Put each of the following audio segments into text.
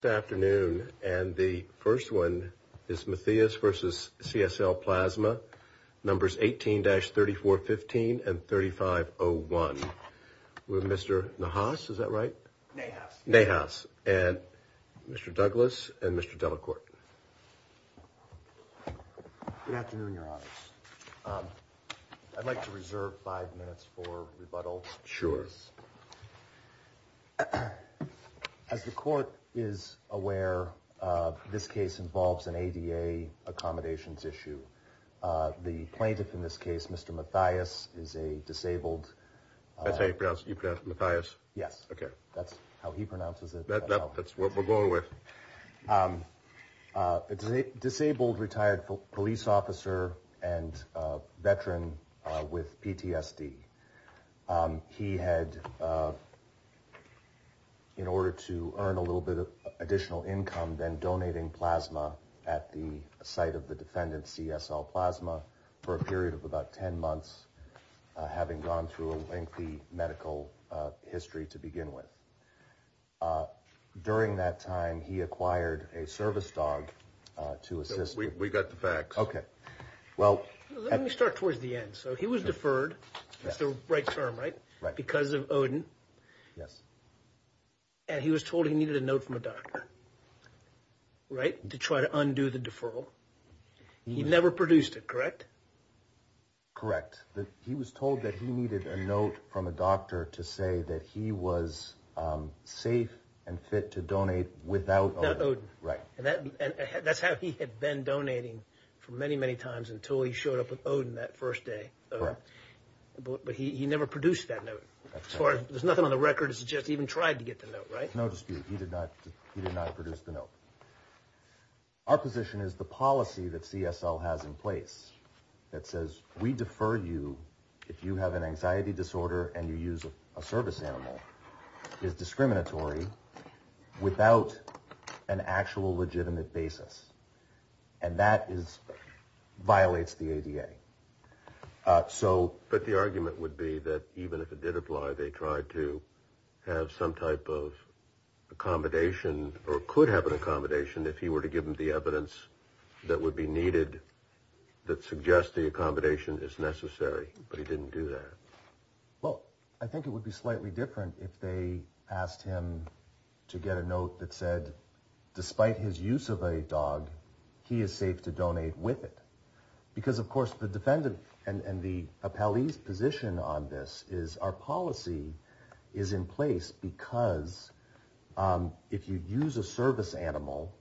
Good afternoon, and the first one is Matheis v. CSL Plasma, numbers 18-3415 and 3501, with Mr. Nahas, is that right? Nahas. Nahas, and Mr. Douglas and Mr. Delacorte. Good afternoon, Your Honors. I'd like to reserve five minutes for rebuttal. Sure. Mr. Douglas. As the Court is aware, this case involves an ADA accommodations issue. The plaintiff in this case, Mr. Mathias, is a disabled... That's how you pronounce it, you pronounce it Mathias? Yes. Okay. That's how he pronounces it. That's what we're going with. Disabled retired police officer and veteran with PTSD. He had, in order to earn a little bit of additional income, then donating plasma at the site of the defendant, CSL Plasma, for a period of about 10 months, having gone through a lengthy medical history to begin with. During that time, he acquired a service dog to assist... We got the facts. Okay. Well... Let me start towards the end. So he was deferred, that's the right term, right? Right. Because of ODIN. Yes. And he was told he needed a note from a doctor, right? To try to undo the deferral. He never produced it, correct? Correct. He was told that he needed a note from a doctor to say that he was safe and fit to donate without ODIN. Right. And that's how he had been donating for many, many times until he showed up with ODIN that first day. Correct. But he never produced that note. As far as... There's nothing on the record to suggest he even tried to get the note, right? No dispute. He did not produce the note. Our position is the policy that CSL has in place that says we defer you if you have an anxiety disorder and you use a service animal is discriminatory without an actual legitimate basis. And that violates the ADA. So... If he were to give him the evidence that would be needed that suggests the accommodation is necessary, but he didn't do that. Well, I think it would be slightly different if they asked him to get a note that said, despite his use of a dog, he is safe to donate with it. Because, of course, the defendant and the appellee's position on this is our policy is in place because if you use a service animal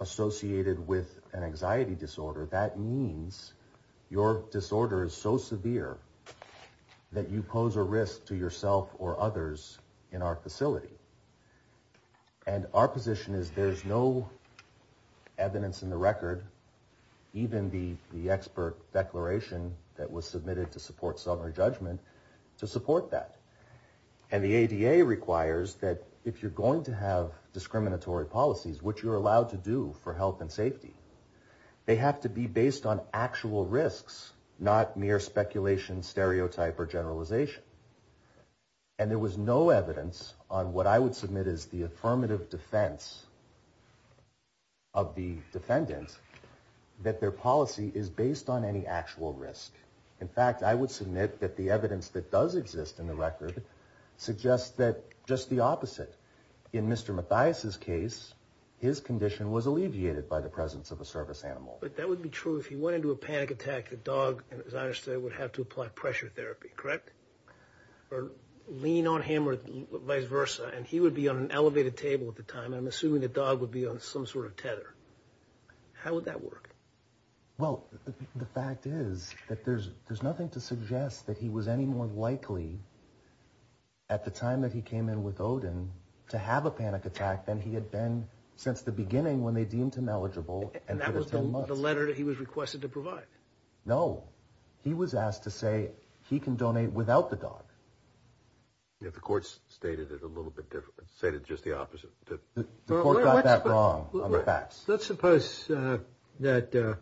associated with an anxiety disorder, that means your disorder is so severe that you pose a risk to yourself or others in our facility. And our position is there's no evidence in the record, even the expert declaration that was submitted to support sovereign judgment, to support that. And the ADA requires that if you're going to have discriminatory policies, which you're allowed to do for health and safety, they have to be based on actual risks, not mere speculation, stereotype, or generalization. And there was no evidence on what I would submit is the affirmative defense of the defendant that their policy is based on any actual risk. In fact, I would submit that the evidence that does exist in the record suggests that just the opposite. In Mr. Mathias' case, his condition was alleviated by the presence of a service animal. But that would be true if he went into a panic attack, the dog, as I understand, would have to apply pressure therapy, correct? Or lean on him or vice versa, and he would be on an elevated table at the time, and I'm assuming the dog would be on some sort of tether. How would that work? Well, the fact is that there's nothing to suggest that he was any more likely at the time that he came in with Odin to have a panic attack than he had been since the beginning when they deemed him eligible. And that was the letter that he was requested to provide? No, he was asked to say he can donate without the dog. If the court stated it a little bit different, stated just the opposite. Let's suppose that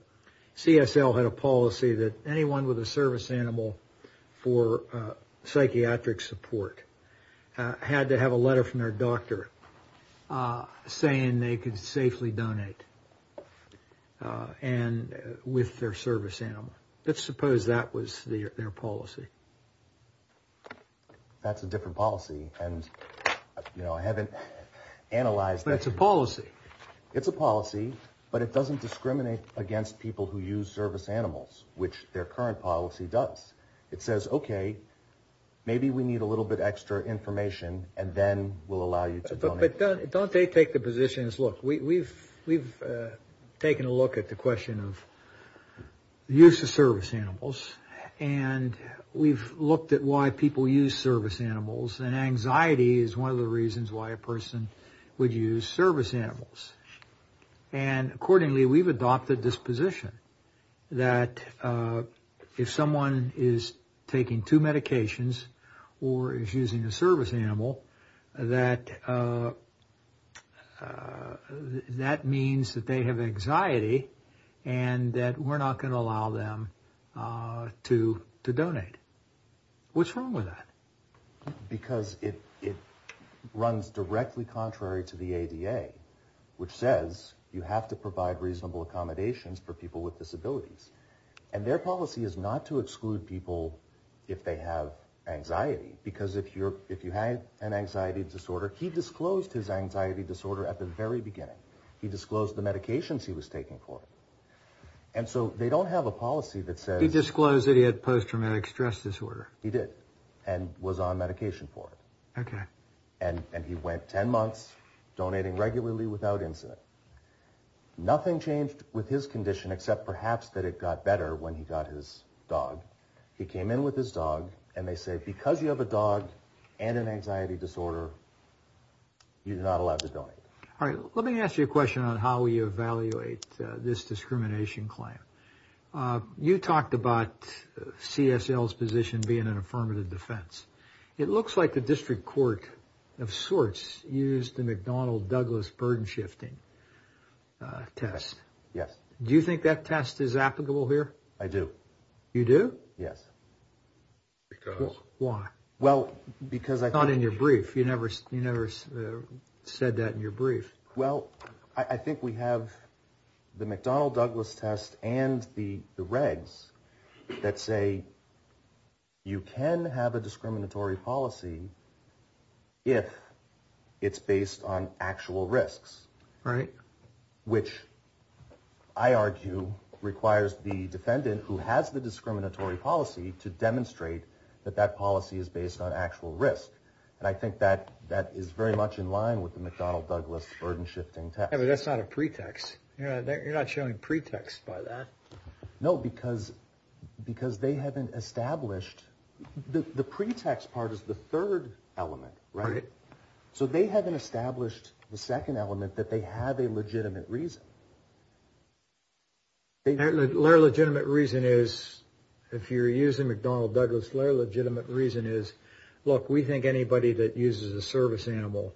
CSL had a policy that anyone with a service animal for psychiatric support had to have a letter from their doctor saying they could safely donate with their service animal. Let's suppose that was their policy. That's a different policy, and I haven't analyzed that. But it's a policy. It's a policy, but it doesn't discriminate against people who use service animals, which their current policy does. It says, okay, maybe we need a little bit extra information, and then we'll allow you to donate. But don't they take the position as, look, we've taken a look at the question of the use of service animals, and we've looked at why people use service animals, and anxiety is one of the reasons why a person would use service animals. And accordingly, we've adopted this position that if someone is taking two medications or is using a service animal, that means that they have anxiety and that we're not going to allow them to donate. What's wrong with that? Because it runs directly contrary to the ADA, which says you have to provide reasonable accommodations for people with disabilities. And their policy is not to exclude people if they have anxiety, because if you have an anxiety disorder, he disclosed his anxiety disorder at the very beginning. He disclosed the medications he was taking for it. And so they don't have a policy that says... He did, and was on medication for it. And he went 10 months donating regularly without incident. Nothing changed with his condition except perhaps that it got better when he got his dog. He came in with his dog, and they say because you have a dog and an anxiety disorder, you're not allowed to donate. All right, let me ask you a question on how we evaluate this discrimination claim. You talked about CSL's position being an affirmative defense. It looks like the district court of sorts used the McDonnell-Douglas burden-shifting test. Yes. Do you think that test is applicable here? I do. You do? Yes. Why? Well, because I thought... Not in your brief. You never said that in your brief. Well, I think we have the McDonnell-Douglas test and the regs that say you can have a discriminatory policy if it's based on actual risks. Right. Which, I argue, requires the defendant who has the discriminatory policy to demonstrate that that policy is based on actual risk. And I think that is very much in line with the McDonnell-Douglas burden-shifting test. Yeah, but that's not a pretext. You're not showing pretext by that. No, because they haven't established... The pretext part is the third element, right? Right. So they haven't established the second element, that they have a legitimate reason. Their legitimate reason is, if you're using McDonnell-Douglas, their legitimate reason is, look, we think anybody that uses a service animal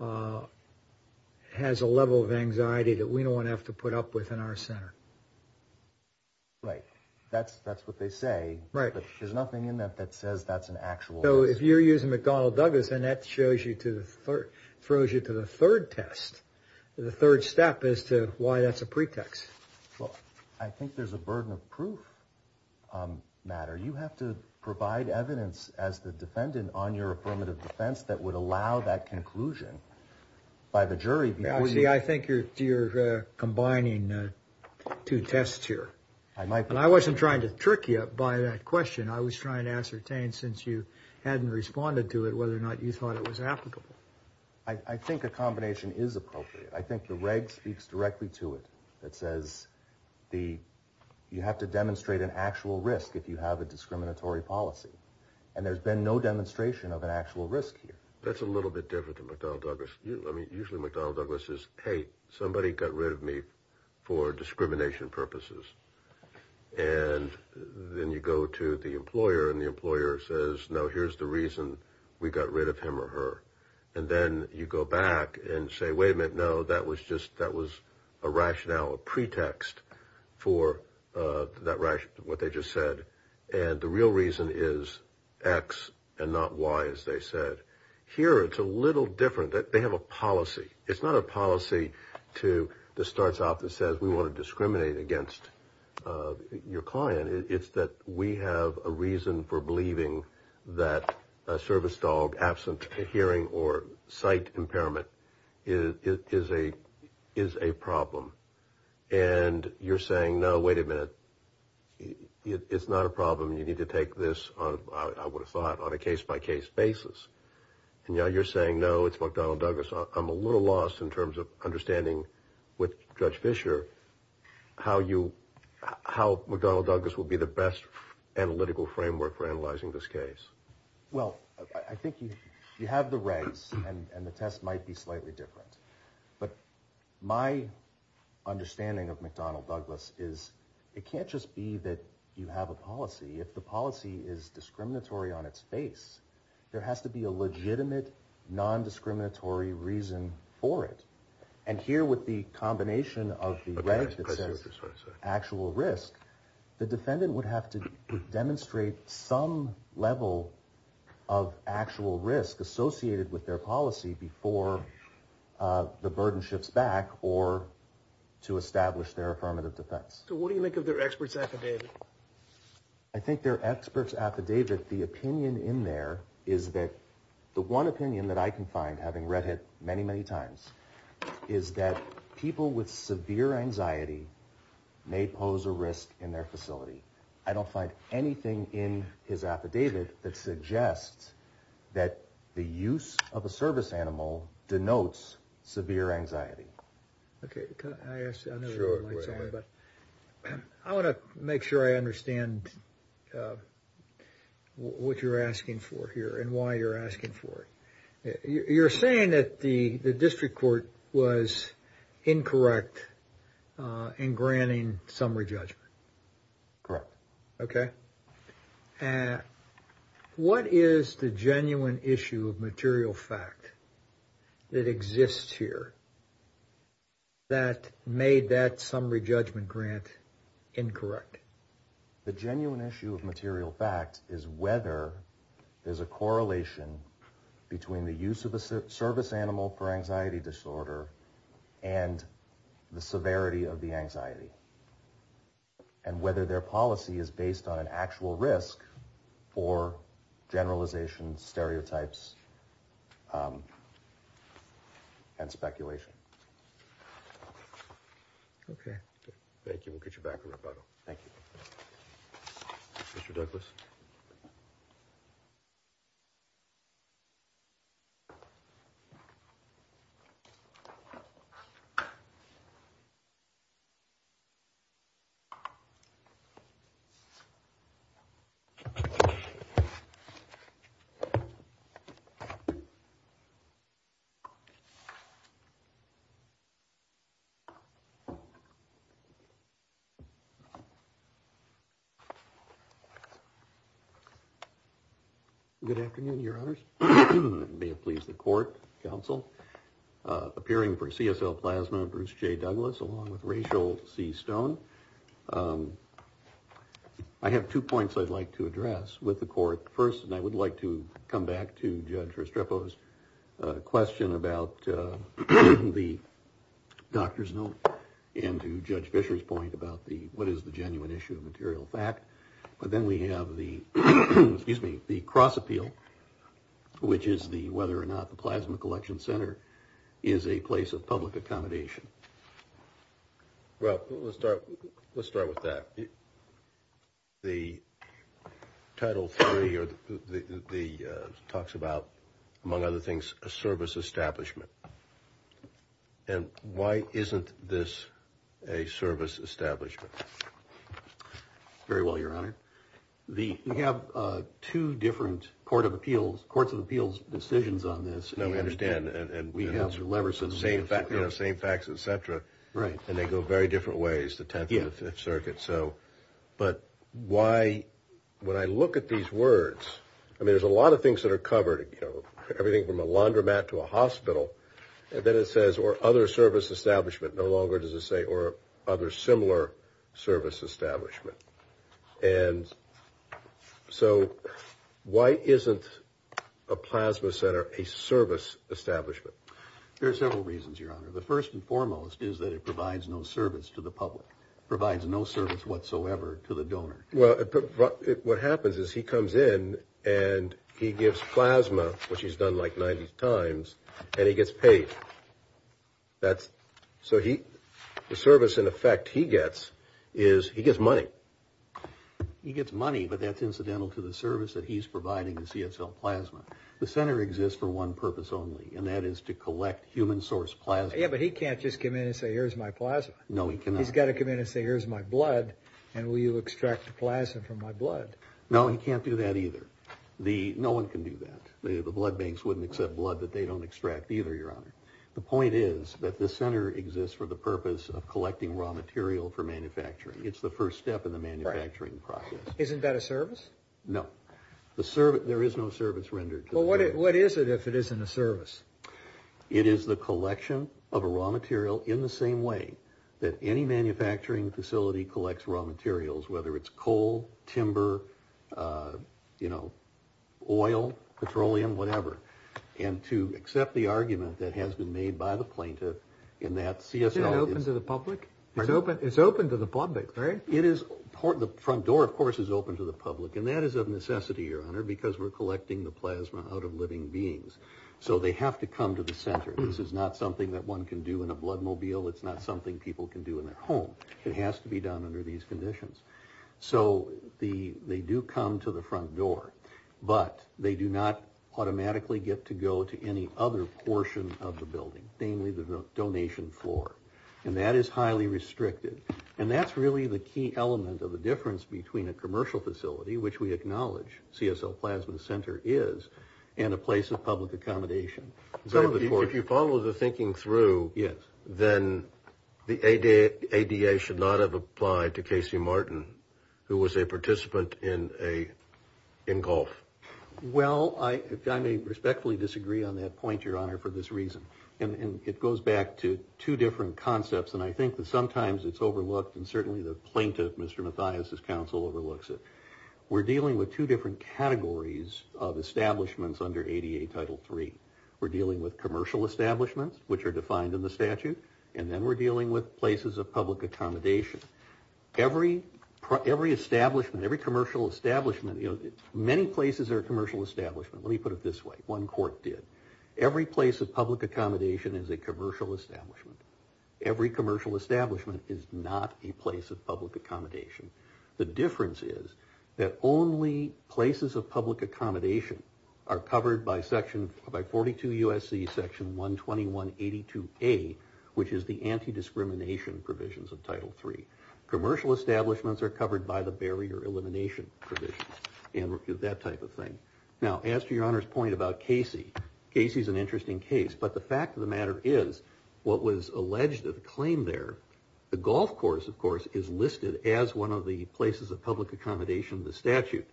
has a level of anxiety that we don't want to have to put up with in our center. Right. That's what they say. Right. But there's nothing in that that says that's an actual risk. So if you're using McDonnell-Douglas, then that throws you to the third test, the third step as to why that's a pretext. Well, I think there's a burden of proof, Matt. You have to provide evidence as the defendant on your affirmative defense that would allow that conclusion by the jury. See, I think you're combining two tests here. I might be. I wasn't trying to trick you by that question. I was trying to ascertain, since you hadn't responded to it, whether or not you thought it was applicable. I think a combination is appropriate. I think the reg speaks directly to it. It says you have to demonstrate an actual risk if you have a discriminatory policy. And there's been no demonstration of an actual risk here. That's a little bit different than McDonnell-Douglas. I mean, usually McDonnell-Douglas is, hey, somebody got rid of me for discrimination purposes. And then you go to the employer and the employer says, no, here's the reason we got rid of him or her. And then you go back and say, wait a minute, no, that was just that was a rationale, a pretext for what they just said. And the real reason is X and not Y, as they said. Here it's a little different. They have a policy. It's not a policy that starts off and says we want to discriminate against your client. It's that we have a reason for believing that a service dog absent hearing or sight impairment is a problem. And you're saying, no, wait a minute, it's not a problem. You need to take this, I would have thought, on a case-by-case basis. And now you're saying, no, it's McDonnell-Douglas. I'm a little lost in terms of understanding with Judge Fischer how McDonnell-Douglas will be the best analytical framework for analyzing this case. Well, I think you have the race and the test might be slightly different. But my understanding of McDonnell-Douglas is it can't just be that you have a policy. If the policy is discriminatory on its face, there has to be a legitimate, nondiscriminatory reason for it. And here with the combination of the Reddit that says actual risk, the defendant would have to demonstrate some level of actual risk associated with their policy before the burden shifts back or to establish their affirmative defense. So what do you make of their expert's affidavit? I think their expert's affidavit, the opinion in there is that the one opinion that I can find, having read it many, many times, is that people with severe anxiety may pose a risk in their facility. I don't find anything in his affidavit that suggests that the use of a service animal denotes severe anxiety. I want to make sure I understand what you're asking for here and why you're asking for it. You're saying that the district court was incorrect in granting summary judgment. Correct. Okay. What is the genuine issue of material fact that exists here that made that summary judgment grant incorrect? The genuine issue of material fact is whether there's a correlation between the use of a service animal for anxiety disorder and the severity of the anxiety. And whether their policy is based on an actual risk or generalization stereotypes and speculation. Okay. Thank you. We'll get you back in rebuttal. Thank you. Mr. Douglas. Good afternoon, your honors. May it please the court, counsel. Appearing for CSL plasma, Bruce J. Douglas, along with Rachel C. Stone. I have two points I'd like to address with the court. First, and I would like to come back to Judge Restrepo's question about the doctor's note. And to Judge Fisher's point about what is the genuine issue of material fact. But then we have the cross appeal, which is whether or not the plasma collection center is a place of public accommodation. Well, let's start with that. The title three talks about, among other things, a service establishment. And why isn't this a service establishment? Very well, your honor. The we have two different court of appeals, courts of appeals decisions on this. No, we understand. And we have leverage. The same fact, you know, same facts, et cetera. Right. And they go very different ways. The 10th Circuit. So but why? When I look at these words, I mean, there's a lot of things that are covered. You know, everything from a laundromat to a hospital. And then it says or other service establishment. No longer does it say or other similar service establishment. And so why isn't a plasma center a service establishment? There are several reasons, your honor. The first and foremost is that it provides no service to the public, provides no service whatsoever to the donor. Well, what happens is he comes in and he gives plasma, which he's done like 90 times, and he gets paid. That's so he the service, in effect, he gets is he gets money. He gets money. But that's incidental to the service that he's providing. You see, it's all plasma. The center exists for one purpose only, and that is to collect human source plasma. But he can't just come in and say, here's my plasma. No, he cannot. He's got to come in and say, here's my blood. And will you extract the plasma from my blood? No, he can't do that either. The no one can do that. The blood banks wouldn't accept blood that they don't extract either. Your honor. The point is that the center exists for the purpose of collecting raw material for manufacturing. It's the first step in the manufacturing process. Isn't that a service? No, the service. There is no service rendered. What is it if it isn't a service? It is the collection of a raw material in the same way that any manufacturing facility collects raw materials, whether it's coal, timber, you know, oil, petroleum, whatever. And to accept the argument that has been made by the plaintiff in that CSL. Is it open to the public? It's open to the public, right? It is. The front door, of course, is open to the public. And that is of necessity, your honor, because we're collecting the plasma out of living beings. So they have to come to the center. This is not something that one can do in a blood mobile. It's not something people can do in their home. It has to be done under these conditions. So they do come to the front door, but they do not automatically get to go to any other portion of the building, namely the donation floor. And that is highly restricted. And that's really the key element of the difference between a commercial facility, which we acknowledge CSL Plasma Center is, and a place of public accommodation. If you follow the thinking through, then the ADA should not have applied to Casey Martin, who was a participant in a engulf. Well, I may respectfully disagree on that point, your honor, for this reason. And it goes back to two different concepts. And I think that sometimes it's overlooked, and certainly the plaintiff, Mr. Mathias' counsel, overlooks it. We're dealing with two different categories of establishments under ADA Title III. We're dealing with commercial establishments, which are defined in the statute. And then we're dealing with places of public accommodation. Every establishment, every commercial establishment, many places are commercial establishments. Let me put it this way. One court did. Every place of public accommodation is a commercial establishment. Every commercial establishment is not a place of public accommodation. The difference is that only places of public accommodation are covered by section, by 42 U.S.C. section 12182A, which is the anti-discrimination provisions of Title III. Commercial establishments are covered by the barrier elimination provisions, and that type of thing. Now, as to your honor's point about Casey, Casey's an interesting case. But the fact of the matter is, what was alleged of the claim there, the golf course, of course, is listed as one of the places of public accommodation in the statute.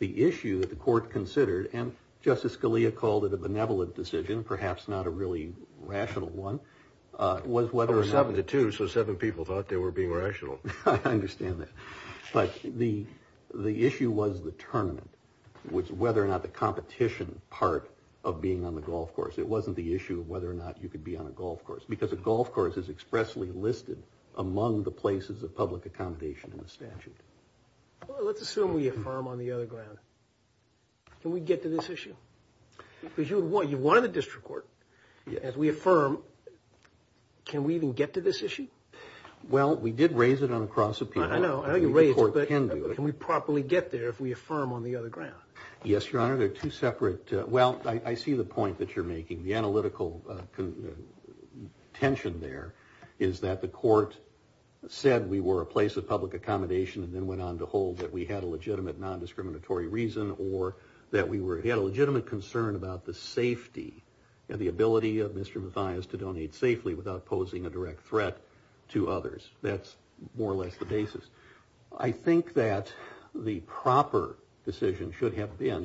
The issue that the court considered, and Justice Scalia called it a benevolent decision, perhaps not a really rational one, was whether or not— It was 7-2, so seven people thought they were being rational. I understand that. But the issue was the tournament, was whether or not the competition part of being on the golf course. It wasn't the issue of whether or not you could be on a golf course, because a golf course is expressly listed among the places of public accommodation in the statute. Let's assume we affirm on the other ground. Can we get to this issue? Because you won the district court. As we affirm, can we even get to this issue? Well, we did raise it on a cross-appeal. I know you raised it, but can we properly get there if we affirm on the other ground? Yes, Your Honor. They're two separate—well, I see the point that you're making. The analytical tension there is that the court said we were a place of public accommodation and then went on to hold that we had a legitimate non-discriminatory reason, or that we had a legitimate concern about the safety and the ability of Mr. Mathias to donate safely without posing a direct threat to others. That's more or less the basis. I think that the proper decision should have been,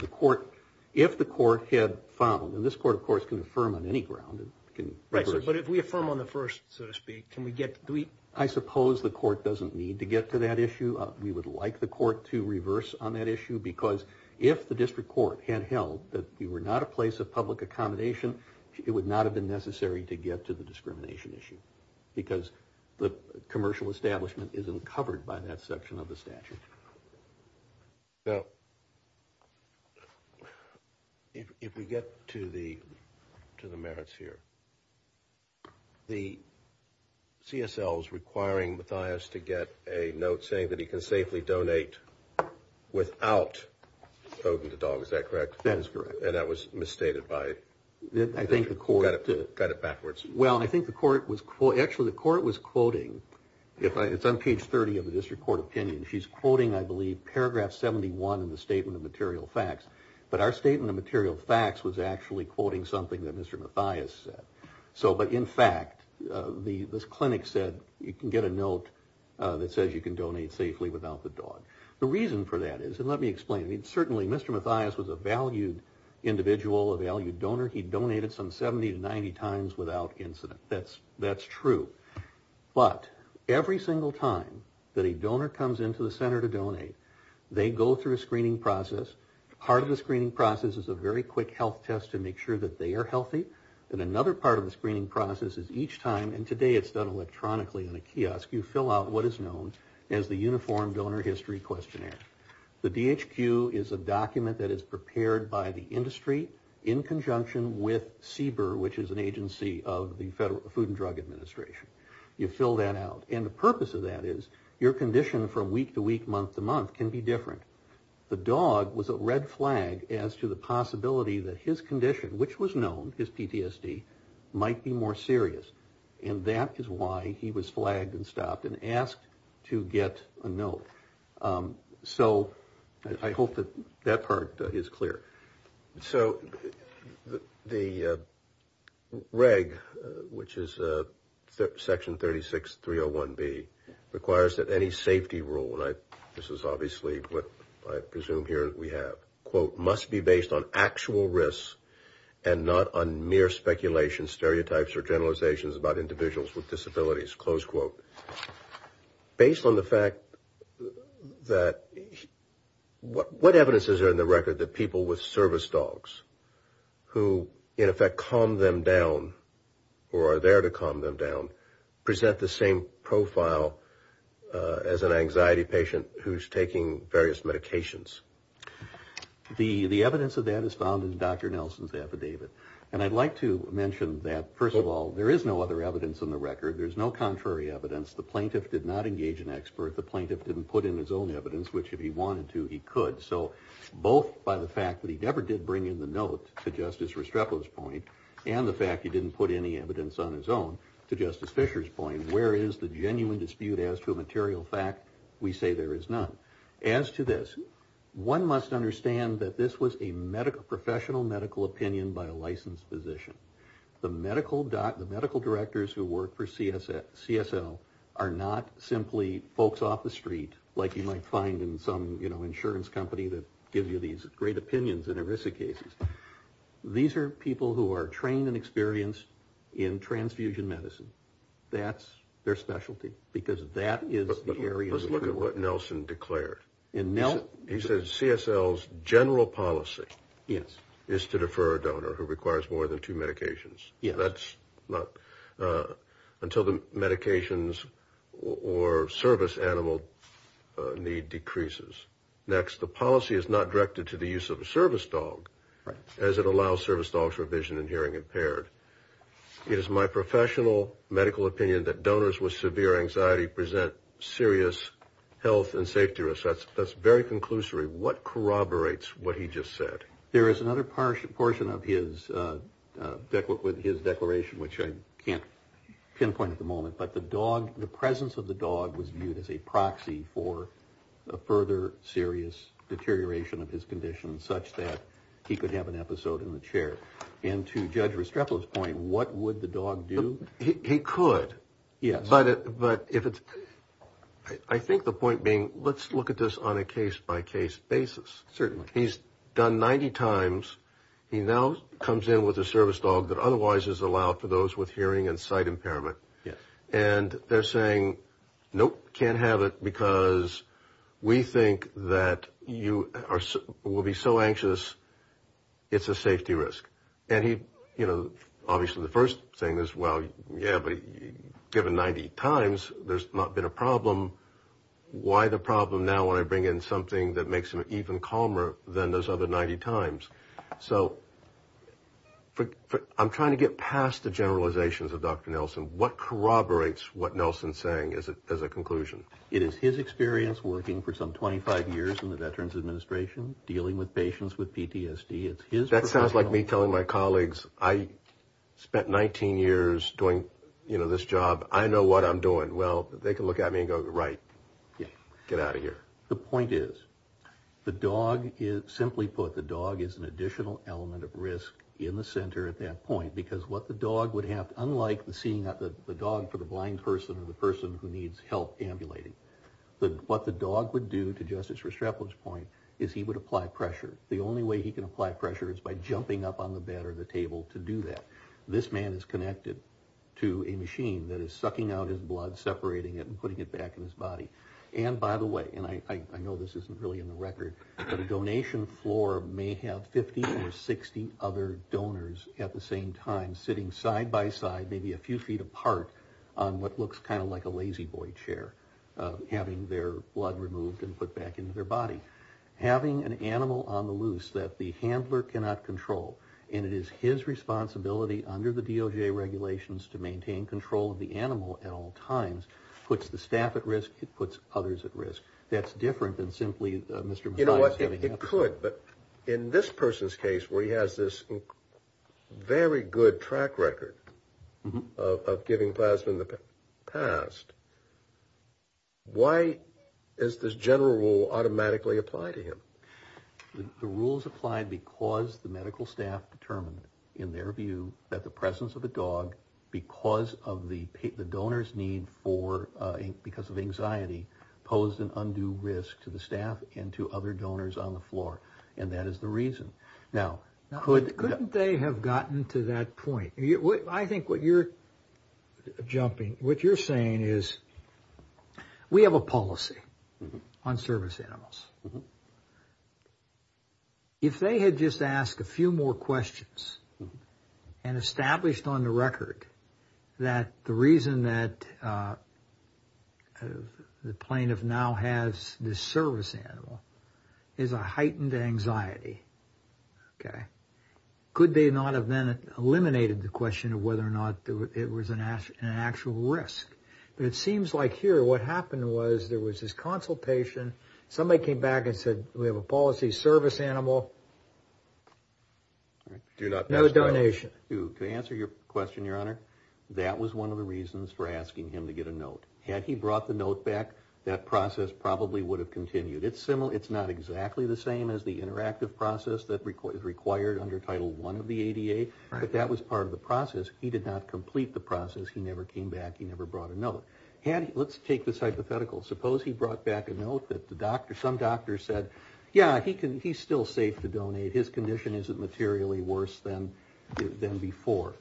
if the court had followed—and this court, of course, can affirm on any ground. Right, but if we affirm on the first, so to speak, can we get— I suppose the court doesn't need to get to that issue. We would like the court to reverse on that issue, because if the district court had held that we were not a place of public accommodation, it would not have been necessary to get to the discrimination issue, because the commercial establishment isn't covered by that section of the statute. Now, if we get to the merits here, the CSL is requiring Mathias to get a note saying that he can safely donate without poking the dog. Is that correct? That is correct. And that was misstated by— I think the court— Got it backwards. Well, I think the court was—actually, the court was quoting—it's on page 30 of the district court opinion. She's quoting, I believe, paragraph 71 in the Statement of Material Facts. But our Statement of Material Facts was actually quoting something that Mr. Mathias said. But in fact, this clinic said you can get a note that says you can donate safely without the dog. The reason for that is—and let me explain. Certainly, Mr. Mathias was a valued individual, a valued donor. He donated some 70 to 90 times without incident. That's true. But every single time that a donor comes into the center to donate, they go through a screening process. Part of the screening process is a very quick health test to make sure that they are healthy. And another part of the screening process is each time—and today it's done electronically in a kiosk— you fill out what is known as the Uniform Donor History Questionnaire. The DHQ is a document that is prepared by the industry in conjunction with CBER, which is an agency of the Food and Drug Administration. You fill that out. And the purpose of that is your condition from week to week, month to month, can be different. The dog was a red flag as to the possibility that his condition, which was known as PTSD, might be more serious. And that is why he was flagged and stopped and asked to get a note. So I hope that that part is clear. So the reg, which is Section 36301B, requires that any safety rule— and this is obviously what I presume here we have— must be based on actual risks and not on mere speculation, stereotypes, or generalizations about individuals with disabilities. Based on the fact that—what evidence is there in the record that people with service dogs who, in effect, calm them down, or are there to calm them down, present the same profile as an anxiety patient who's taking various medications? The evidence of that is found in Dr. Nelson's affidavit. And I'd like to mention that, first of all, there is no other evidence in the record. There's no contrary evidence. The plaintiff did not engage an expert. The plaintiff didn't put in his own evidence, which, if he wanted to, he could. So both by the fact that he never did bring in the note, to Justice Restrepo's point, and the fact he didn't put any evidence on his own, to Justice Fischer's point, where is the genuine dispute as to a material fact? We say there is none. As to this, one must understand that this was a professional medical opinion by a licensed physician. The medical directors who work for CSL are not simply folks off the street, like you might find in some insurance company that gives you these great opinions in ERISA cases. These are people who are trained and experienced in transfusion medicine. That's their specialty, because that is the area. Let's look at what Nelson declared. He said CSL's general policy is to defer a donor who requires more than two medications. That's not until the medications or service animal need decreases. Next, the policy is not directed to the use of a service dog, as it allows service dogs for vision and hearing impaired. It is my professional medical opinion that donors with severe anxiety present serious health and safety risks. That's very conclusory. What corroborates what he just said? There is another portion of his declaration, which I can't pinpoint at the moment, but the presence of the dog was viewed as a proxy for a further serious deterioration of his condition, such that he could have an episode in the chair. And to Judge Restrepo's point, what would the dog do? He could, yes. But I think the point being, let's look at this on a case-by-case basis. Certainly. He's done 90 times. He now comes in with a service dog that otherwise is allowed for those with hearing and sight impairment. Yes. And they're saying, nope, can't have it because we think that you will be so anxious, it's a safety risk. And he, you know, obviously the first thing is, well, yeah, but given 90 times, there's not been a problem. Why the problem now when I bring in something that makes him even calmer than those other 90 times? So I'm trying to get past the generalizations of Dr. Nelson. What corroborates what Nelson's saying as a conclusion? It is his experience working for some 25 years in the Veterans Administration, dealing with patients with PTSD. That sounds like me telling my colleagues, I spent 19 years doing, you know, this job. I know what I'm doing. Well, they can look at me and go, right, get out of here. The point is, the dog is, simply put, the dog is an additional element of risk in the center at that point because what the dog would have, unlike seeing the dog for the blind person or the person who needs help ambulating, what the dog would do, to Justice Restrepo's point, is he would apply pressure. The only way he can apply pressure is by jumping up on the bed or the table to do that. This man is connected to a machine that is sucking out his blood, separating it, and putting it back in his body. And, by the way, and I know this isn't really in the record, but a donation floor may have 50 or 60 other donors at the same time sitting side by side, maybe a few feet apart on what looks kind of like a lazy boy chair, having their blood removed and put back into their body. Having an animal on the loose that the handler cannot control, and it is his responsibility under the DOJ regulations to maintain control of the animal at all times, puts the staff at risk, it puts others at risk. That's different than simply Mr. McLeod is going to have to do. You know what, it could, but in this person's case where he has this very good track record of giving plasma in the past, why does this general rule automatically apply to him? The rule is applied because the medical staff determined, in their view, that the presence of a dog because of the donor's need for, because of anxiety, posed an undue risk to the staff and to other donors on the floor, and that is the reason. Now, couldn't they have gotten to that point? I think what you're jumping, what you're saying is we have a policy on service animals. If they had just asked a few more questions and established on the record that the reason that the plaintiff now has this service animal is a heightened anxiety, could they not have then eliminated the question of whether or not it was an actual risk? But it seems like here what happened was there was this consultation. Somebody came back and said we have a policy service animal. Do not pass by. No donation. To answer your question, Your Honor, that was one of the reasons for asking him to get a note. Had he brought the note back, that process probably would have continued. It's not exactly the same as the interactive process that is required under Title I of the ADA, but that was part of the process. He did not complete the process. He never came back. He never brought a note. Let's take this hypothetical. Suppose he brought back a note that some doctor said, yeah, he's still safe to donate. His condition isn't materially worse than before.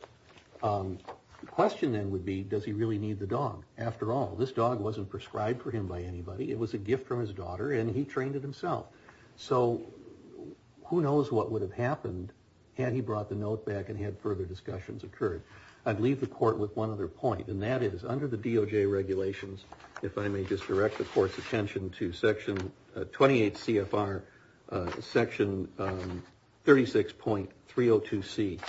The question then would be does he really need the dog? After all, this dog wasn't prescribed for him by anybody. It was a gift from his daughter, and he trained it himself. So who knows what would have happened had he brought the note back and had further discussions occurred. I'd leave the Court with one other point, and that is under the DOJ regulations, if I may just direct the Court's attention to Section 28 CFR, Section 36.302C,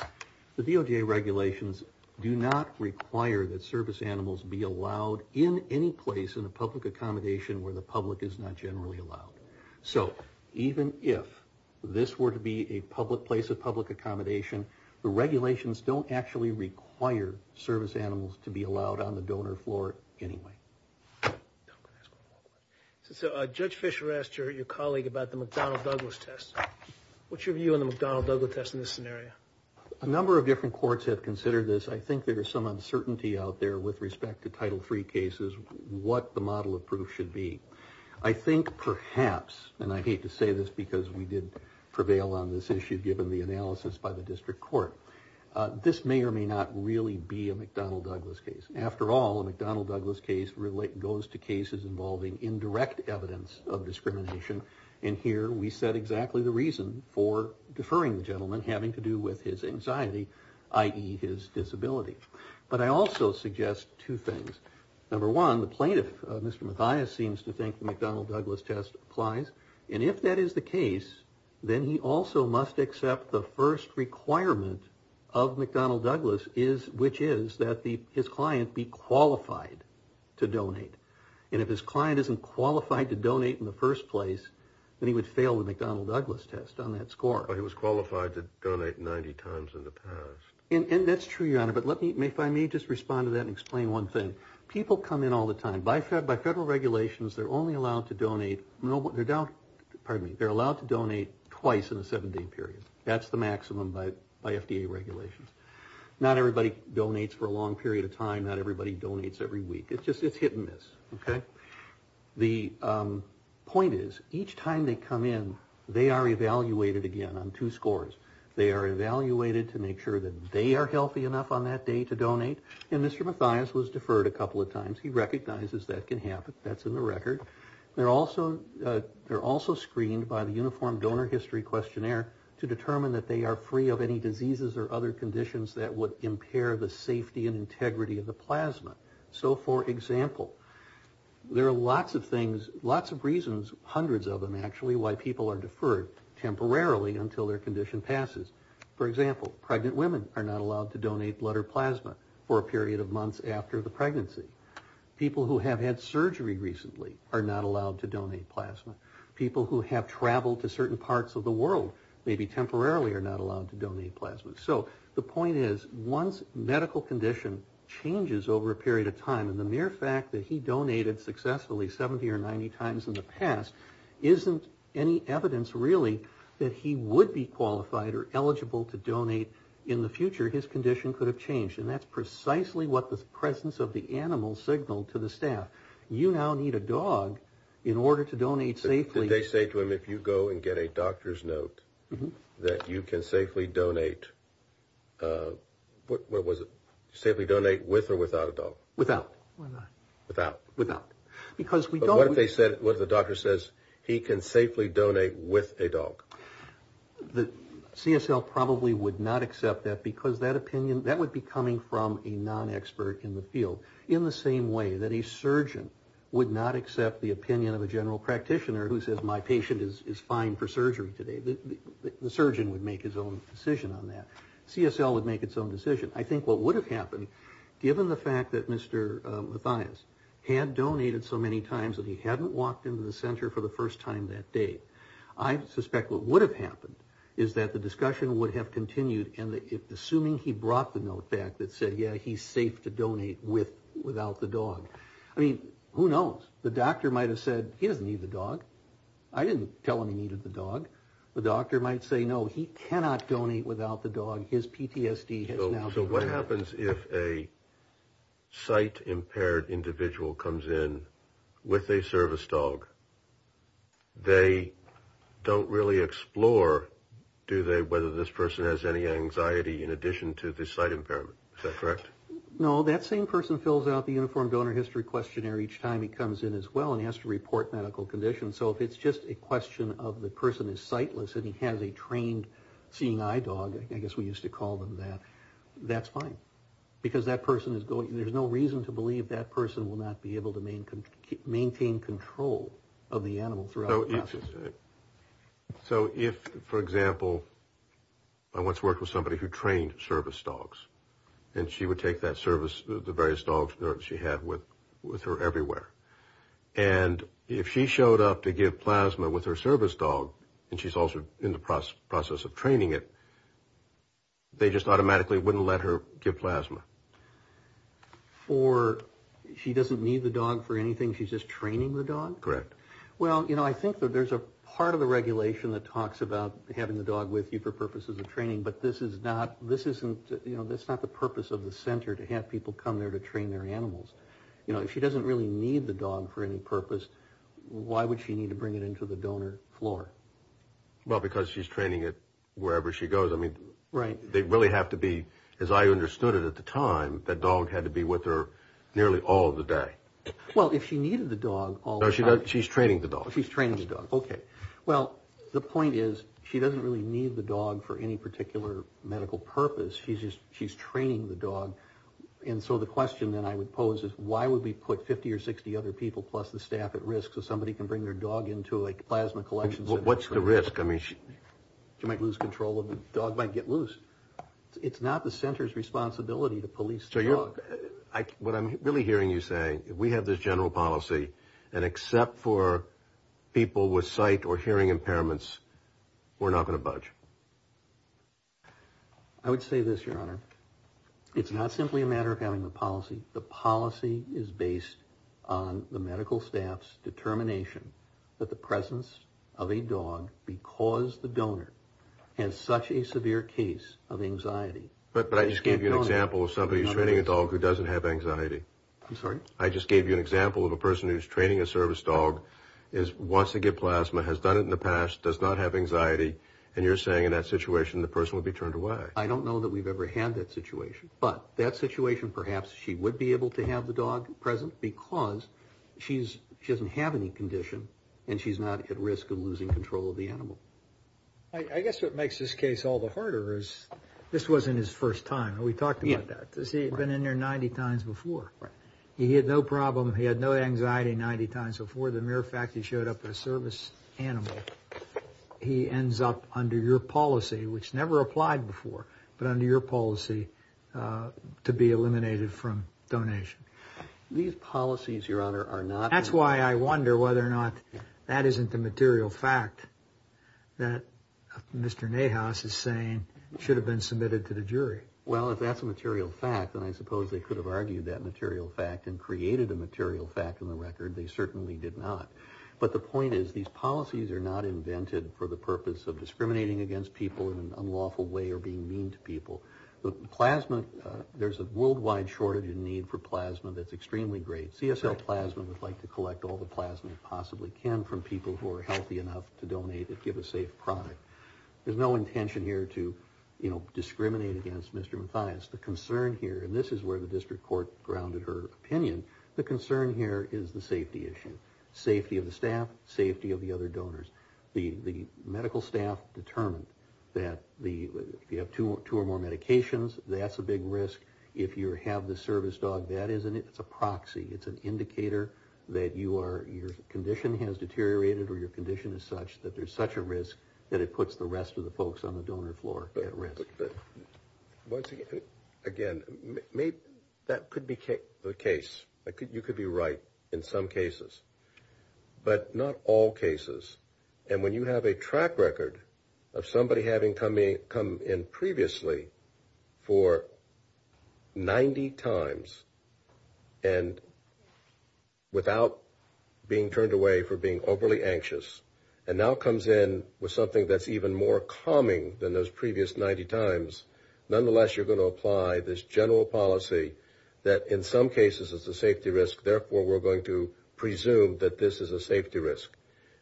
the DOJ regulations do not require that service animals be allowed in any place in a public accommodation where the public is not generally allowed. So even if this were to be a public place of public accommodation, the regulations don't actually require service animals to be allowed on the donor floor anyway. Judge Fischer asked your colleague about the McDonnell-Douglas test. What's your view on the McDonnell-Douglas test in this scenario? A number of different courts have considered this. I think there's some uncertainty out there with respect to Title III cases, what the model of proof should be. I think perhaps, and I hate to say this because we did prevail on this issue given the analysis by the District Court, this may or may not really be a McDonnell-Douglas case. After all, a McDonnell-Douglas case goes to cases involving indirect evidence of discrimination, and here we set exactly the reason for deferring the gentleman having to do with his anxiety, i.e. his disability. But I also suggest two things. Number one, the plaintiff, Mr. Mathias, seems to think the McDonnell-Douglas test applies, and if that is the case, then he also must accept the first requirement of McDonnell-Douglas, which is that his client be qualified to donate. And if his client isn't qualified to donate in the first place, then he would fail the McDonnell-Douglas test on that score. But he was qualified to donate 90 times in the past. And that's true, Your Honor, but if I may just respond to that and explain one thing. People come in all the time. By federal regulations, they're only allowed to donate twice in a seven-day period. That's the maximum by FDA regulations. Not everybody donates for a long period of time. Not everybody donates every week. It's hit and miss. The point is, each time they come in, they are evaluated again on two scores. They are evaluated to make sure that they are healthy enough on that day to donate. And Mr. Mathias was deferred a couple of times. He recognizes that can happen. That's in the record. They're also screened by the Uniform Donor History Questionnaire to determine that they are free of any diseases or other conditions that would impair the safety and integrity of the plasma. So, for example, there are lots of things, lots of reasons, hundreds of them, actually, why people are deferred temporarily until their condition passes. For example, pregnant women are not allowed to donate blood or plasma for a period of months after the pregnancy. People who have had surgery recently are not allowed to donate plasma. People who have traveled to certain parts of the world maybe temporarily are not allowed to donate plasma. So the point is, once medical condition changes over a period of time, and the mere fact that he donated successfully 70 or 90 times in the past isn't any evidence, really, that he would be qualified or eligible to donate in the future, his condition could have changed. And that's precisely what the presence of the animal signaled to the staff. You now need a dog in order to donate safely. Did they say to him, if you go and get a doctor's note, that you can safely donate with or without a dog? Without. Without. Without. But what if the doctor says he can safely donate with a dog? CSL probably would not accept that because that opinion, that would be coming from a non-expert in the field. In the same way that a surgeon would not accept the opinion of a general practitioner who says, my patient is fine for surgery today. The surgeon would make his own decision on that. CSL would make its own decision. I think what would have happened, given the fact that Mr. Mathias had donated so many times that he hadn't walked into the center for the first time that day, I suspect what would have happened is that the discussion would have continued, and assuming he brought the note back that said, yeah, he's safe to donate with or without the dog. I mean, who knows? The doctor might have said, he doesn't need the dog. I didn't tell him he needed the dog. The doctor might say, no, he cannot donate without the dog. So what happens if a sight-impaired individual comes in with a service dog? They don't really explore, do they, whether this person has any anxiety in addition to the sight impairment. Is that correct? No, that same person fills out the Uniform Donor History Questionnaire each time he comes in as well and he has to report medical conditions. So if it's just a question of the person is sightless and he has a trained seeing eye dog, I guess we used to call them that, that's fine. Because there's no reason to believe that person will not be able to maintain control of the animal throughout the process. So if, for example, I once worked with somebody who trained service dogs, and she would take that service, the various dogs she had with her everywhere, and if she showed up to give plasma with her service dog, and she's also in the process of training it, they just automatically wouldn't let her give plasma. For she doesn't need the dog for anything, she's just training the dog? Correct. Well, you know, I think that there's a part of the regulation that talks about having the dog with you for purposes of training, but this is not, this isn't, you know, that's not the purpose of the center to have people come there to train their animals. You know, if she doesn't really need the dog for any purpose, why would she need to bring it into the donor floor? Well, because she's training it wherever she goes. I mean, they really have to be, as I understood it at the time, that dog had to be with her nearly all of the day. Well, if she needed the dog all the time. No, she's training the dog. She's training the dog, okay. Well, the point is, she doesn't really need the dog for any particular medical purpose, she's just, she's training the dog. And so the question that I would pose is, why would we put 50 or 60 other people plus the staff at risk so somebody can bring their dog into a plasma collection center? Well, what's the risk? I mean, she might lose control of the dog, might get loose. It's not the center's responsibility to police the dog. What I'm really hearing you say, we have this general policy, and except for people with sight or hearing impairments, we're not going to budge. I would say this, Your Honor. It's not simply a matter of having the policy. The policy is based on the medical staff's determination that the presence of a dog, because the donor has such a severe case of anxiety. But I just gave you an example of somebody who's training a dog who doesn't have anxiety. I'm sorry? I just gave you an example of a person who's training a service dog, wants to get plasma, has done it in the past, does not have anxiety, and you're saying in that situation the person would be turned away. I don't know that we've ever had that situation, but that situation perhaps she would be able to have the dog present because she doesn't have any condition and she's not at risk of losing control of the animal. I guess what makes this case all the harder is this wasn't his first time. We talked about that. He had been in there 90 times before. He had no problem. He had no anxiety 90 times before. The mere fact he showed up as a service animal, he ends up under your policy, which never applied before, but under your policy to be eliminated from donation. These policies, Your Honor, are not... That's why I wonder whether or not that isn't a material fact that Mr. Nahas is saying should have been submitted to the jury. Well, if that's a material fact, then I suppose they could have argued that material fact and created a material fact in the record. They certainly did not. But the point is these policies are not invented for the purpose of discriminating against people in an unlawful way or being mean to people. Plasma, there's a worldwide shortage and need for plasma that's extremely great. CSL Plasma would like to collect all the plasma it possibly can from people who are healthy enough to donate and give a safe product. There's no intention here to discriminate against Mr. Mathias. The concern here, and this is where the district court grounded her opinion, the concern here is the safety issue. Safety of the staff, safety of the other donors. The medical staff determined that if you have two or more medications, that's a big risk. If you have the service dog, that isn't it. It's a proxy. It's an indicator that your condition has deteriorated or your condition is such that there's such a risk that it puts the rest of the folks on the donor floor at risk. Again, that could be the case. You could be right in some cases. But not all cases. And when you have a track record of somebody having come in previously for 90 times and without being turned away for being overly anxious and now comes in with something that's even more calming than those previous 90 times, nonetheless you're going to apply this general policy that in some cases is a safety risk, therefore we're going to presume that this is a safety risk.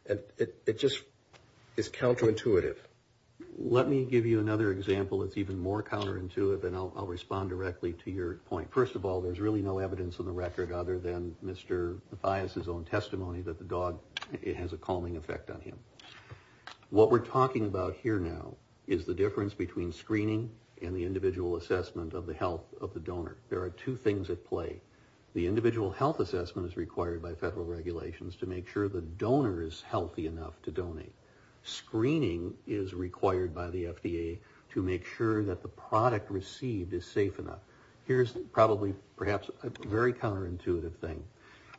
And it just is counterintuitive. Let me give you another example that's even more counterintuitive, and I'll respond directly to your point. First of all, there's really no evidence in the record other than Mr. Mathias' own testimony that the dog has a calming effect on him. What we're talking about here now is the difference between screening and the individual assessment of the health of the donor. There are two things at play. The individual health assessment is required by federal regulations to make sure the donor is healthy enough to donate. Screening is required by the FDA to make sure that the product received is safe enough. Here's probably perhaps a very counterintuitive thing.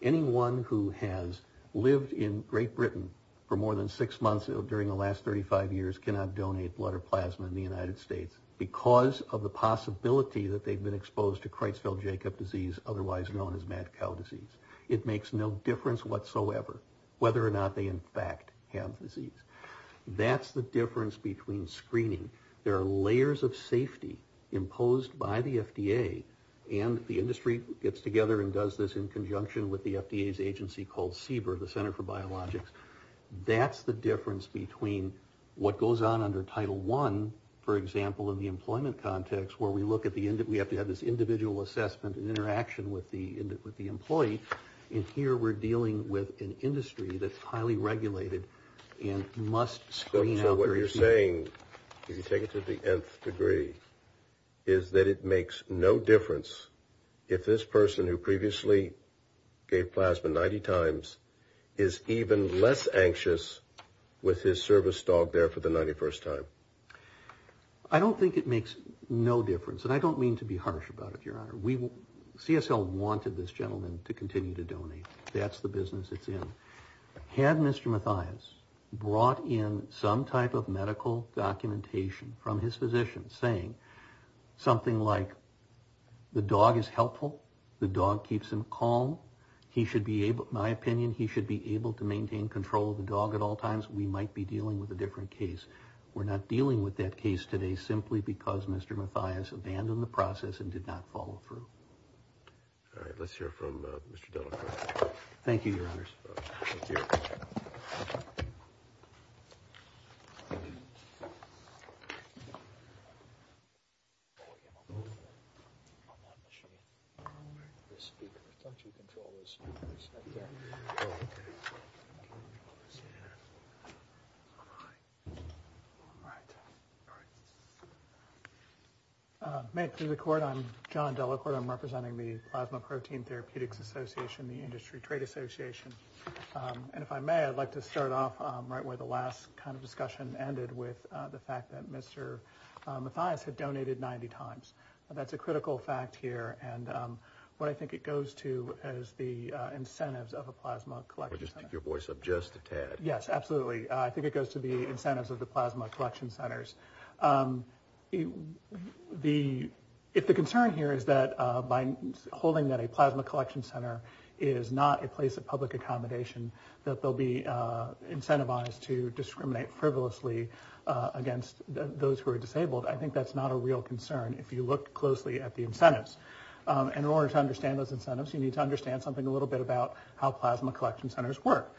Anyone who has lived in Great Britain for more than six months during the last 35 years cannot donate blood or plasma in the United States because of the possibility that they've been exposed to Creutzfeldt-Jakob disease, otherwise known as mad cow disease. It makes no difference whatsoever whether or not they in fact have disease. That's the difference between screening. There are layers of safety imposed by the FDA, and the industry gets together and does this in conjunction with the FDA's agency called CBER, the Center for Biologics. That's the difference between what goes on under Title I, for example, in the employment context where we have to have this individual assessment and interaction with the employee, and here we're dealing with an industry that's highly regulated and must screen out. So what you're saying, if you take it to the nth degree, is that it makes no difference if this person who previously gave plasma 90 times is even less anxious with his service dog there for the 91st time. I don't think it makes no difference, and I don't mean to be harsh about it, Your Honor. CSL wanted this gentleman to continue to donate. That's the business it's in. Had Mr. Mathias brought in some type of medical documentation from his physician saying something like, the dog is helpful, the dog keeps him calm, he should be able, in my opinion, he should be able to maintain control of the dog at all times, we might be dealing with a different case. We're not dealing with that case today simply because Mr. Mathias abandoned the process and did not follow through. All right, let's hear from Mr. Delacroix. Thank you, Your Honors. Thank you. May it please the Court, I'm John Delacroix. I'm representing the Plasma Protein Therapeutics Association, the Industry Trade Association. And if I may, I'd like to start off right where the last kind of discussion ended with the fact that Mr. Mathias had donated 90 times. That's a critical fact here. And what I think it goes to is the incentives of a plasma collection center. Just take your voice up just a tad. Yes, absolutely. I think it goes to the incentives of the plasma collection centers. If the concern here is that by holding that a plasma collection center is not a place of public accommodation, that they'll be incentivized to discriminate frivolously against those who are disabled, I think that's not a real concern if you look closely at the incentives. And in order to understand those incentives, you need to understand something a little bit about how plasma collection centers work.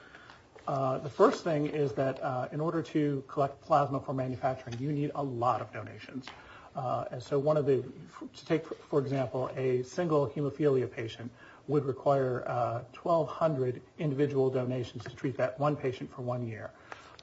The first thing is that in order to collect plasma for manufacturing, you need a lot of donations. And so to take, for example, a single hemophilia patient would require 1,200 individual donations to treat that one patient for one year.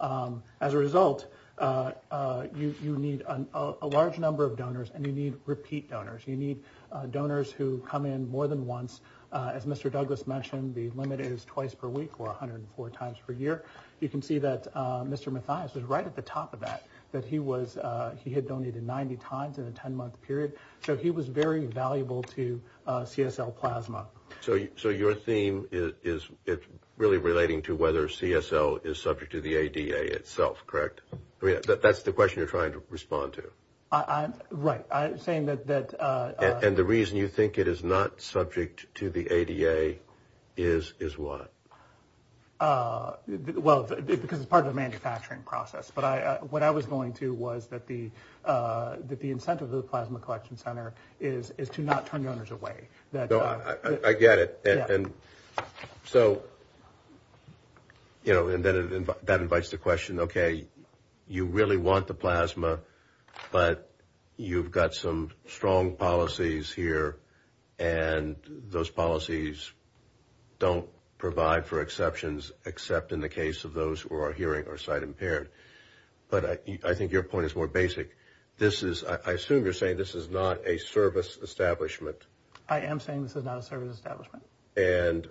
As a result, you need a large number of donors and you need repeat donors. You need donors who come in more than once. As Mr. Douglas mentioned, the limit is twice per week or 104 times per year. You can see that Mr. Mathias was right at the top of that, that he had donated 90 times in a 10-month period. So he was very valuable to CSL plasma. So your theme is really relating to whether CSL is subject to the ADA itself, correct? That's the question you're trying to respond to? Right. And the reason you think it is not subject to the ADA is what? Well, because it's part of the manufacturing process. But what I was going to was that the incentive of the plasma collection center is to not turn donors away. I get it. And so, you know, that invites the question, okay, you really want the plasma, but you've got some strong policies here and those policies don't provide for exceptions except in the case of those who are hearing or sight impaired. But I think your point is more basic. I assume you're saying this is not a service establishment. I am saying this is not a service establishment. And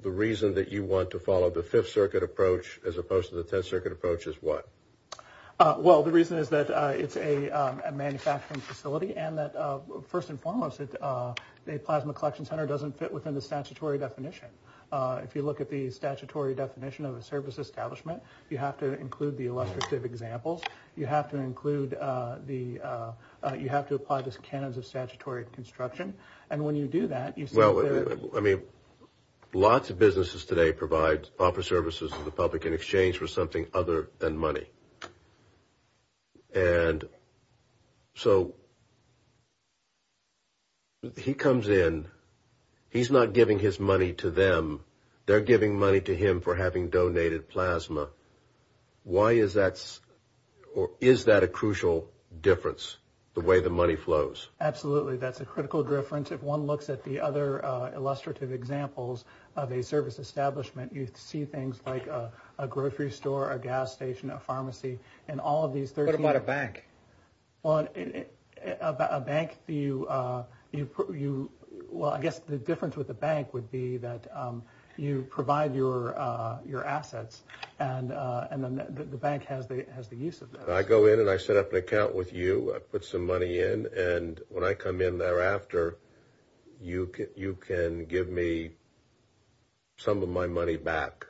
the reason that you want to follow the Fifth Circuit approach as opposed to the Tenth Circuit approach is what? Well, the reason is that it's a manufacturing facility and that first and foremost a plasma collection center doesn't fit within the statutory definition. If you look at the statutory definition of a service establishment, you have to include the elective examples. You have to include the you have to apply the scanners of statutory construction. And when you do that, you say, well, I mean, lots of businesses today provide offer services to the public in exchange for something other than money. And so. He comes in. He's not giving his money to them. They're giving money to him for having donated plasma. Why is that? Or is that a crucial difference? The way the money flows? Absolutely. That's a critical difference. If one looks at the other illustrative examples of a service establishment, you see things like a grocery store, a gas station, a pharmacy and all of these. What about a bank? Well, a bank. You you. Well, I guess the difference with the bank would be that you provide your your assets. And and then the bank has the has the use of that. I go in and I set up an account with you. I put some money in. And when I come in thereafter, you get you can give me. Some of my money back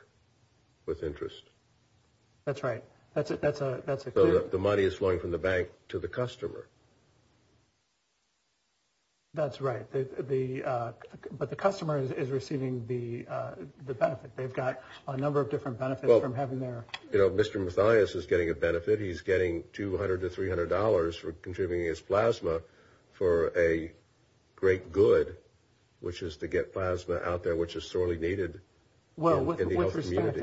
with interest. That's right. That's it. That's a that's the money is flowing from the bank to the customer. That's right. The but the customer is receiving the benefit. They've got a number of different benefits from having their, you know, Mr. Mathias is getting a benefit. He's getting 200 to 300 dollars for contributing his plasma for a great good, which is to get plasma out there, which is sorely needed. Well,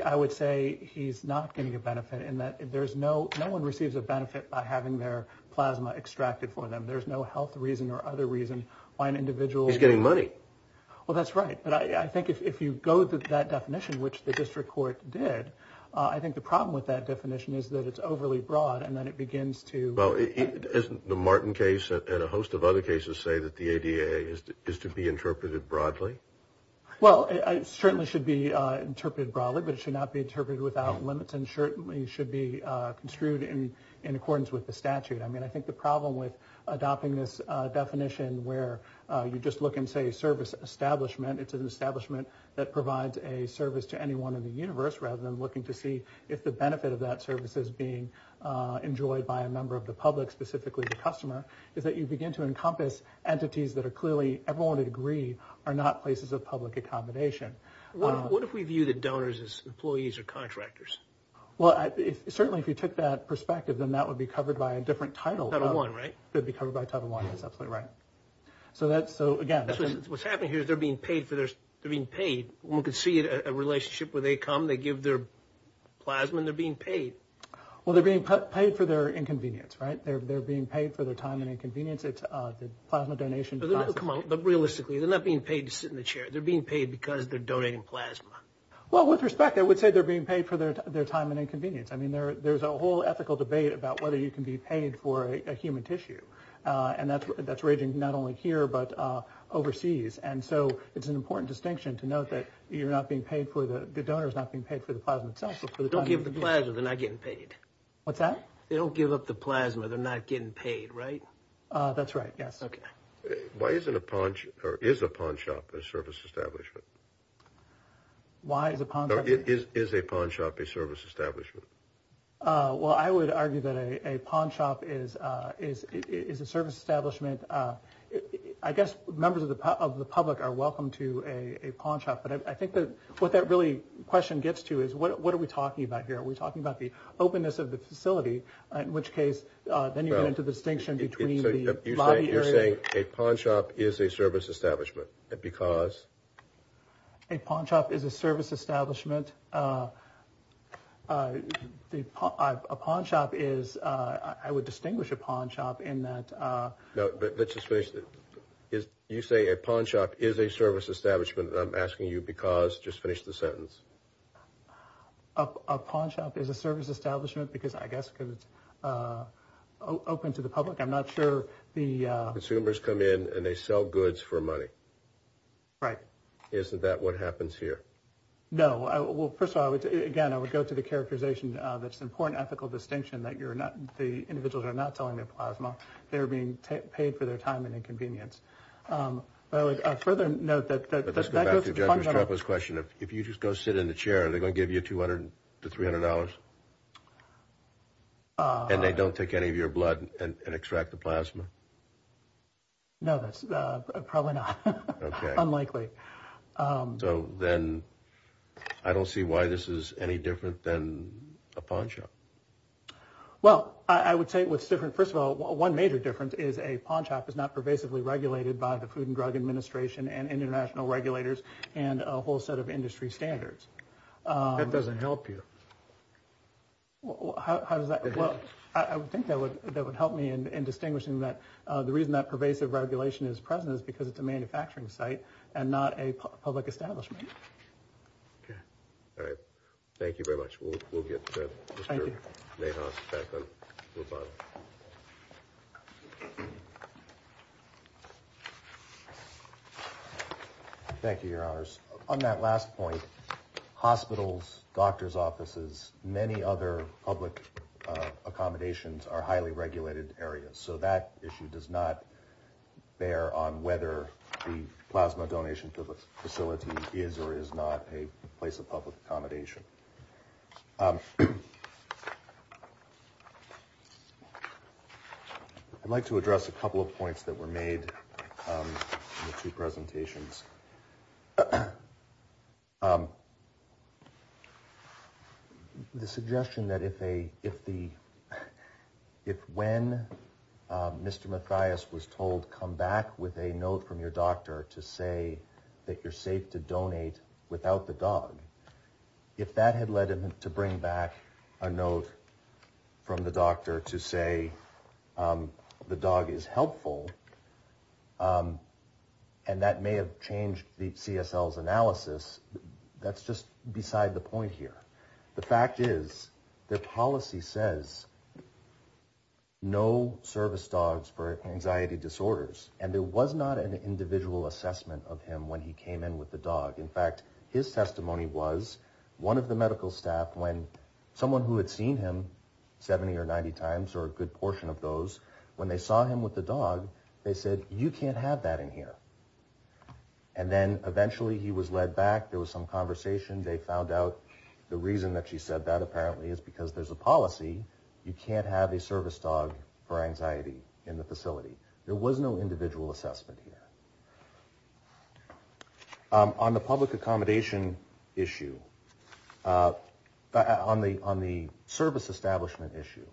I would say he's not getting a benefit in that. There's no no one receives a benefit by having their plasma extracted for them. There's no health reason or other reason why an individual is getting money. Well, that's right. But I think if you go to that definition, which the district court did, I think the problem with that definition is that it's overly broad and then it begins to. Well, isn't the Martin case and a host of other cases say that the ADA is to be interpreted broadly? Well, it certainly should be interpreted broadly, but it should not be interpreted without limits. And certainly should be construed in accordance with the statute. I mean, I think the problem with adopting this definition where you just look and say service establishment, it's an establishment that provides a service to anyone in the universe rather than looking to see if the benefit of that service is being enjoyed by a member of the public, specifically the customer, is that you begin to encompass entities that are clearly everyone would agree are not places of public accommodation. What if we view the donors as employees or contractors? Well, certainly, if you took that perspective, then that would be covered by a different title. I don't want to be covered by title one. That's absolutely right. So that's so again, what's happening here is they're being paid for their being paid. We could see a relationship where they come, they give their plasma and they're being paid. Well, they're being paid for their inconvenience, right? They're being paid for their time and inconvenience. It's the plasma donation. Come on. But realistically, they're not being paid to sit in the chair. They're being paid because they're donating plasma. Well, with respect, I would say they're being paid for their time and inconvenience. I mean, there there's a whole ethical debate about whether you can be paid for a human tissue. And that's that's raging not only here, but overseas. And so it's an important distinction to note that you're not being paid for. The donor is not being paid for the plasma itself. Don't give the plasma. They're not getting paid. What's that? They don't give up the plasma. They're not getting paid. Right. That's right. Yes. Why is it a punch or is a pawn shop a service establishment? Why is it is a pawn shop a service establishment? Well, I would argue that a pawn shop is is is a service establishment. I guess members of the of the public are welcome to a pawn shop. But I think that what that really question gets to is what are we talking about here? Are we talking about the openness of the facility? In which case, then you get into the distinction between the lobby area. You're saying a pawn shop is a service establishment because. A pawn shop is a service establishment. The pawn shop is I would distinguish a pawn shop in that. No, but let's just say that is you say a pawn shop is a service establishment. I'm asking you because just finish the sentence. A pawn shop is a service establishment because I guess it's open to the public. I'm not sure the consumers come in and they sell goods for money. Right. Isn't that what happens here? No. Well, first of all, again, I would go to the characterization. That's important. Ethical distinction that you're not. The individuals are not selling their plasma. They're being paid for their time and inconvenience. Further note that this question, if you just go sit in the chair, they're going to give you 200 to $300. And they don't take any of your blood and extract the plasma. No, that's probably not unlikely. So then I don't see why this is any different than a pawn shop. Well, I would say it was different. First of all, one major difference is a pawn shop is not pervasively regulated by the Food and Drug Administration and international regulators and a whole set of industry standards. That doesn't help you. Well, how does that work? I think that would that would help me in distinguishing that. The reason that pervasive regulation is present is because it's a manufacturing site and not a public establishment. Yeah. All right. Thank you very much. We'll get back on. Thank you, your honors. On that last point, hospitals, doctor's offices, many other public accommodations are highly regulated areas. So that issue does not bear on whether the plasma donation facility is or is not a place of public accommodation. I'd like to address a couple of points that were made to presentations. The suggestion that if a if the if when Mr. Mathias was told, come back with a note from your doctor to say that you're safe to donate without the dog. If that had led him to bring back a note from the doctor to say the dog is helpful. And that may have changed the C.S.L.'s analysis. That's just beside the point here. The fact is their policy says no service dogs for anxiety disorders. And there was not an individual assessment of him when he came in with the dog. In fact, his testimony was one of the medical staff when someone who had seen him 70 or 90 times or a good portion of those, when they saw him with the dog, they said, you can't have that in here. And then eventually he was led back. There was some conversation. They found out the reason that she said that apparently is because there's a policy. You can't have a service dog for anxiety in the facility. There was no individual assessment here on the public accommodation issue on the on the service establishment issue.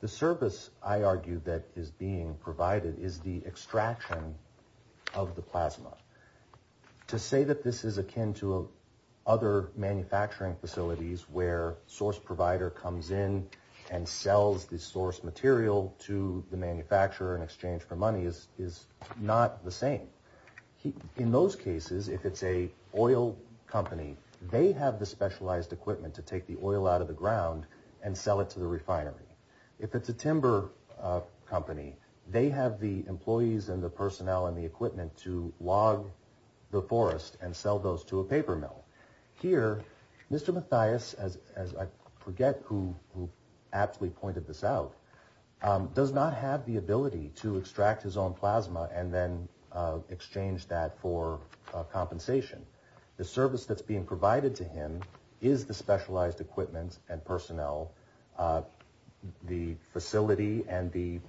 The service, I argue, that is being provided is the extraction of the plasma. To say that this is akin to other manufacturing facilities where source provider comes in and sells the source material to the manufacturer in exchange for money is is not the same. In those cases, if it's a oil company, they have the specialized equipment to take the oil out of the ground and sell it to the refinery. If it's a timber company, they have the employees and the personnel and the equipment to log the forest and sell those to a paper mill here. Mr. Mathias, as I forget who actually pointed this out, does not have the ability to extract his own plasma and then exchange that for compensation. The service that's being provided to him is the specialized equipment and personnel, the facility and the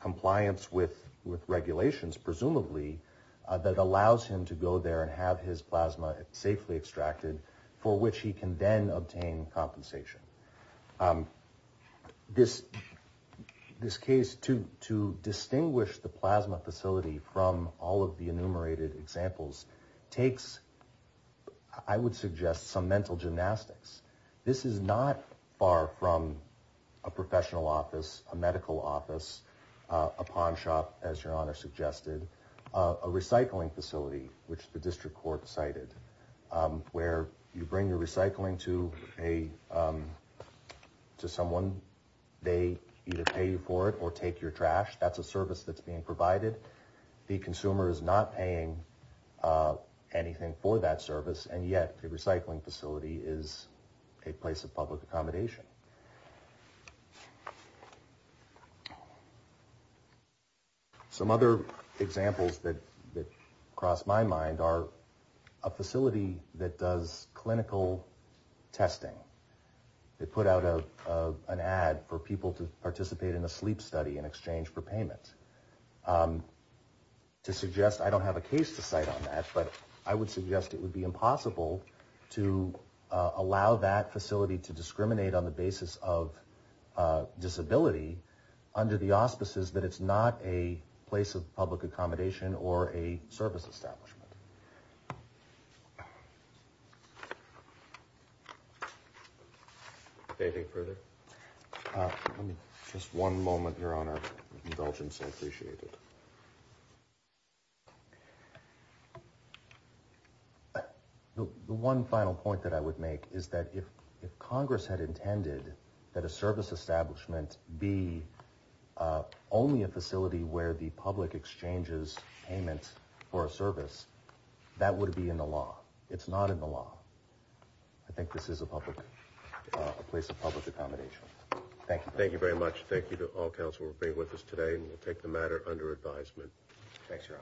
compliance with with regulations, presumably that allows him to go there and have his plasma safely extracted for which he can then obtain compensation. This this case to to distinguish the plasma facility from all of the enumerated examples takes, I would suggest, some mental gymnastics. This is not far from a professional office, a medical office, a pawn shop, as your honor suggested, a recycling facility, which the district court cited where you bring your recycling to a to someone. They either pay you for it or take your trash. That's a service that's being provided. The consumer is not paying anything for that service. And yet the recycling facility is a place of public accommodation. Some other examples that cross my mind are a facility that does clinical testing. They put out an ad for people to participate in a sleep study in exchange for payment to suggest I don't have a case to cite on that. But I would suggest it would be impossible to allow that facility to discriminate on the basis of disability under the auspices that it's not a place of public accommodation or a service establishment. They think further. Just one moment here on our indulgence. I appreciate it. The one final point that I would make is that if if Congress had intended that a service establishment be only a facility where the public exchanges payments for a service, that would be in the law. It's not in the law. I think this is a public, a place of public accommodation. Thank you. Thank you very much. Thank you to all council for being with us today. Take the matter under advisement.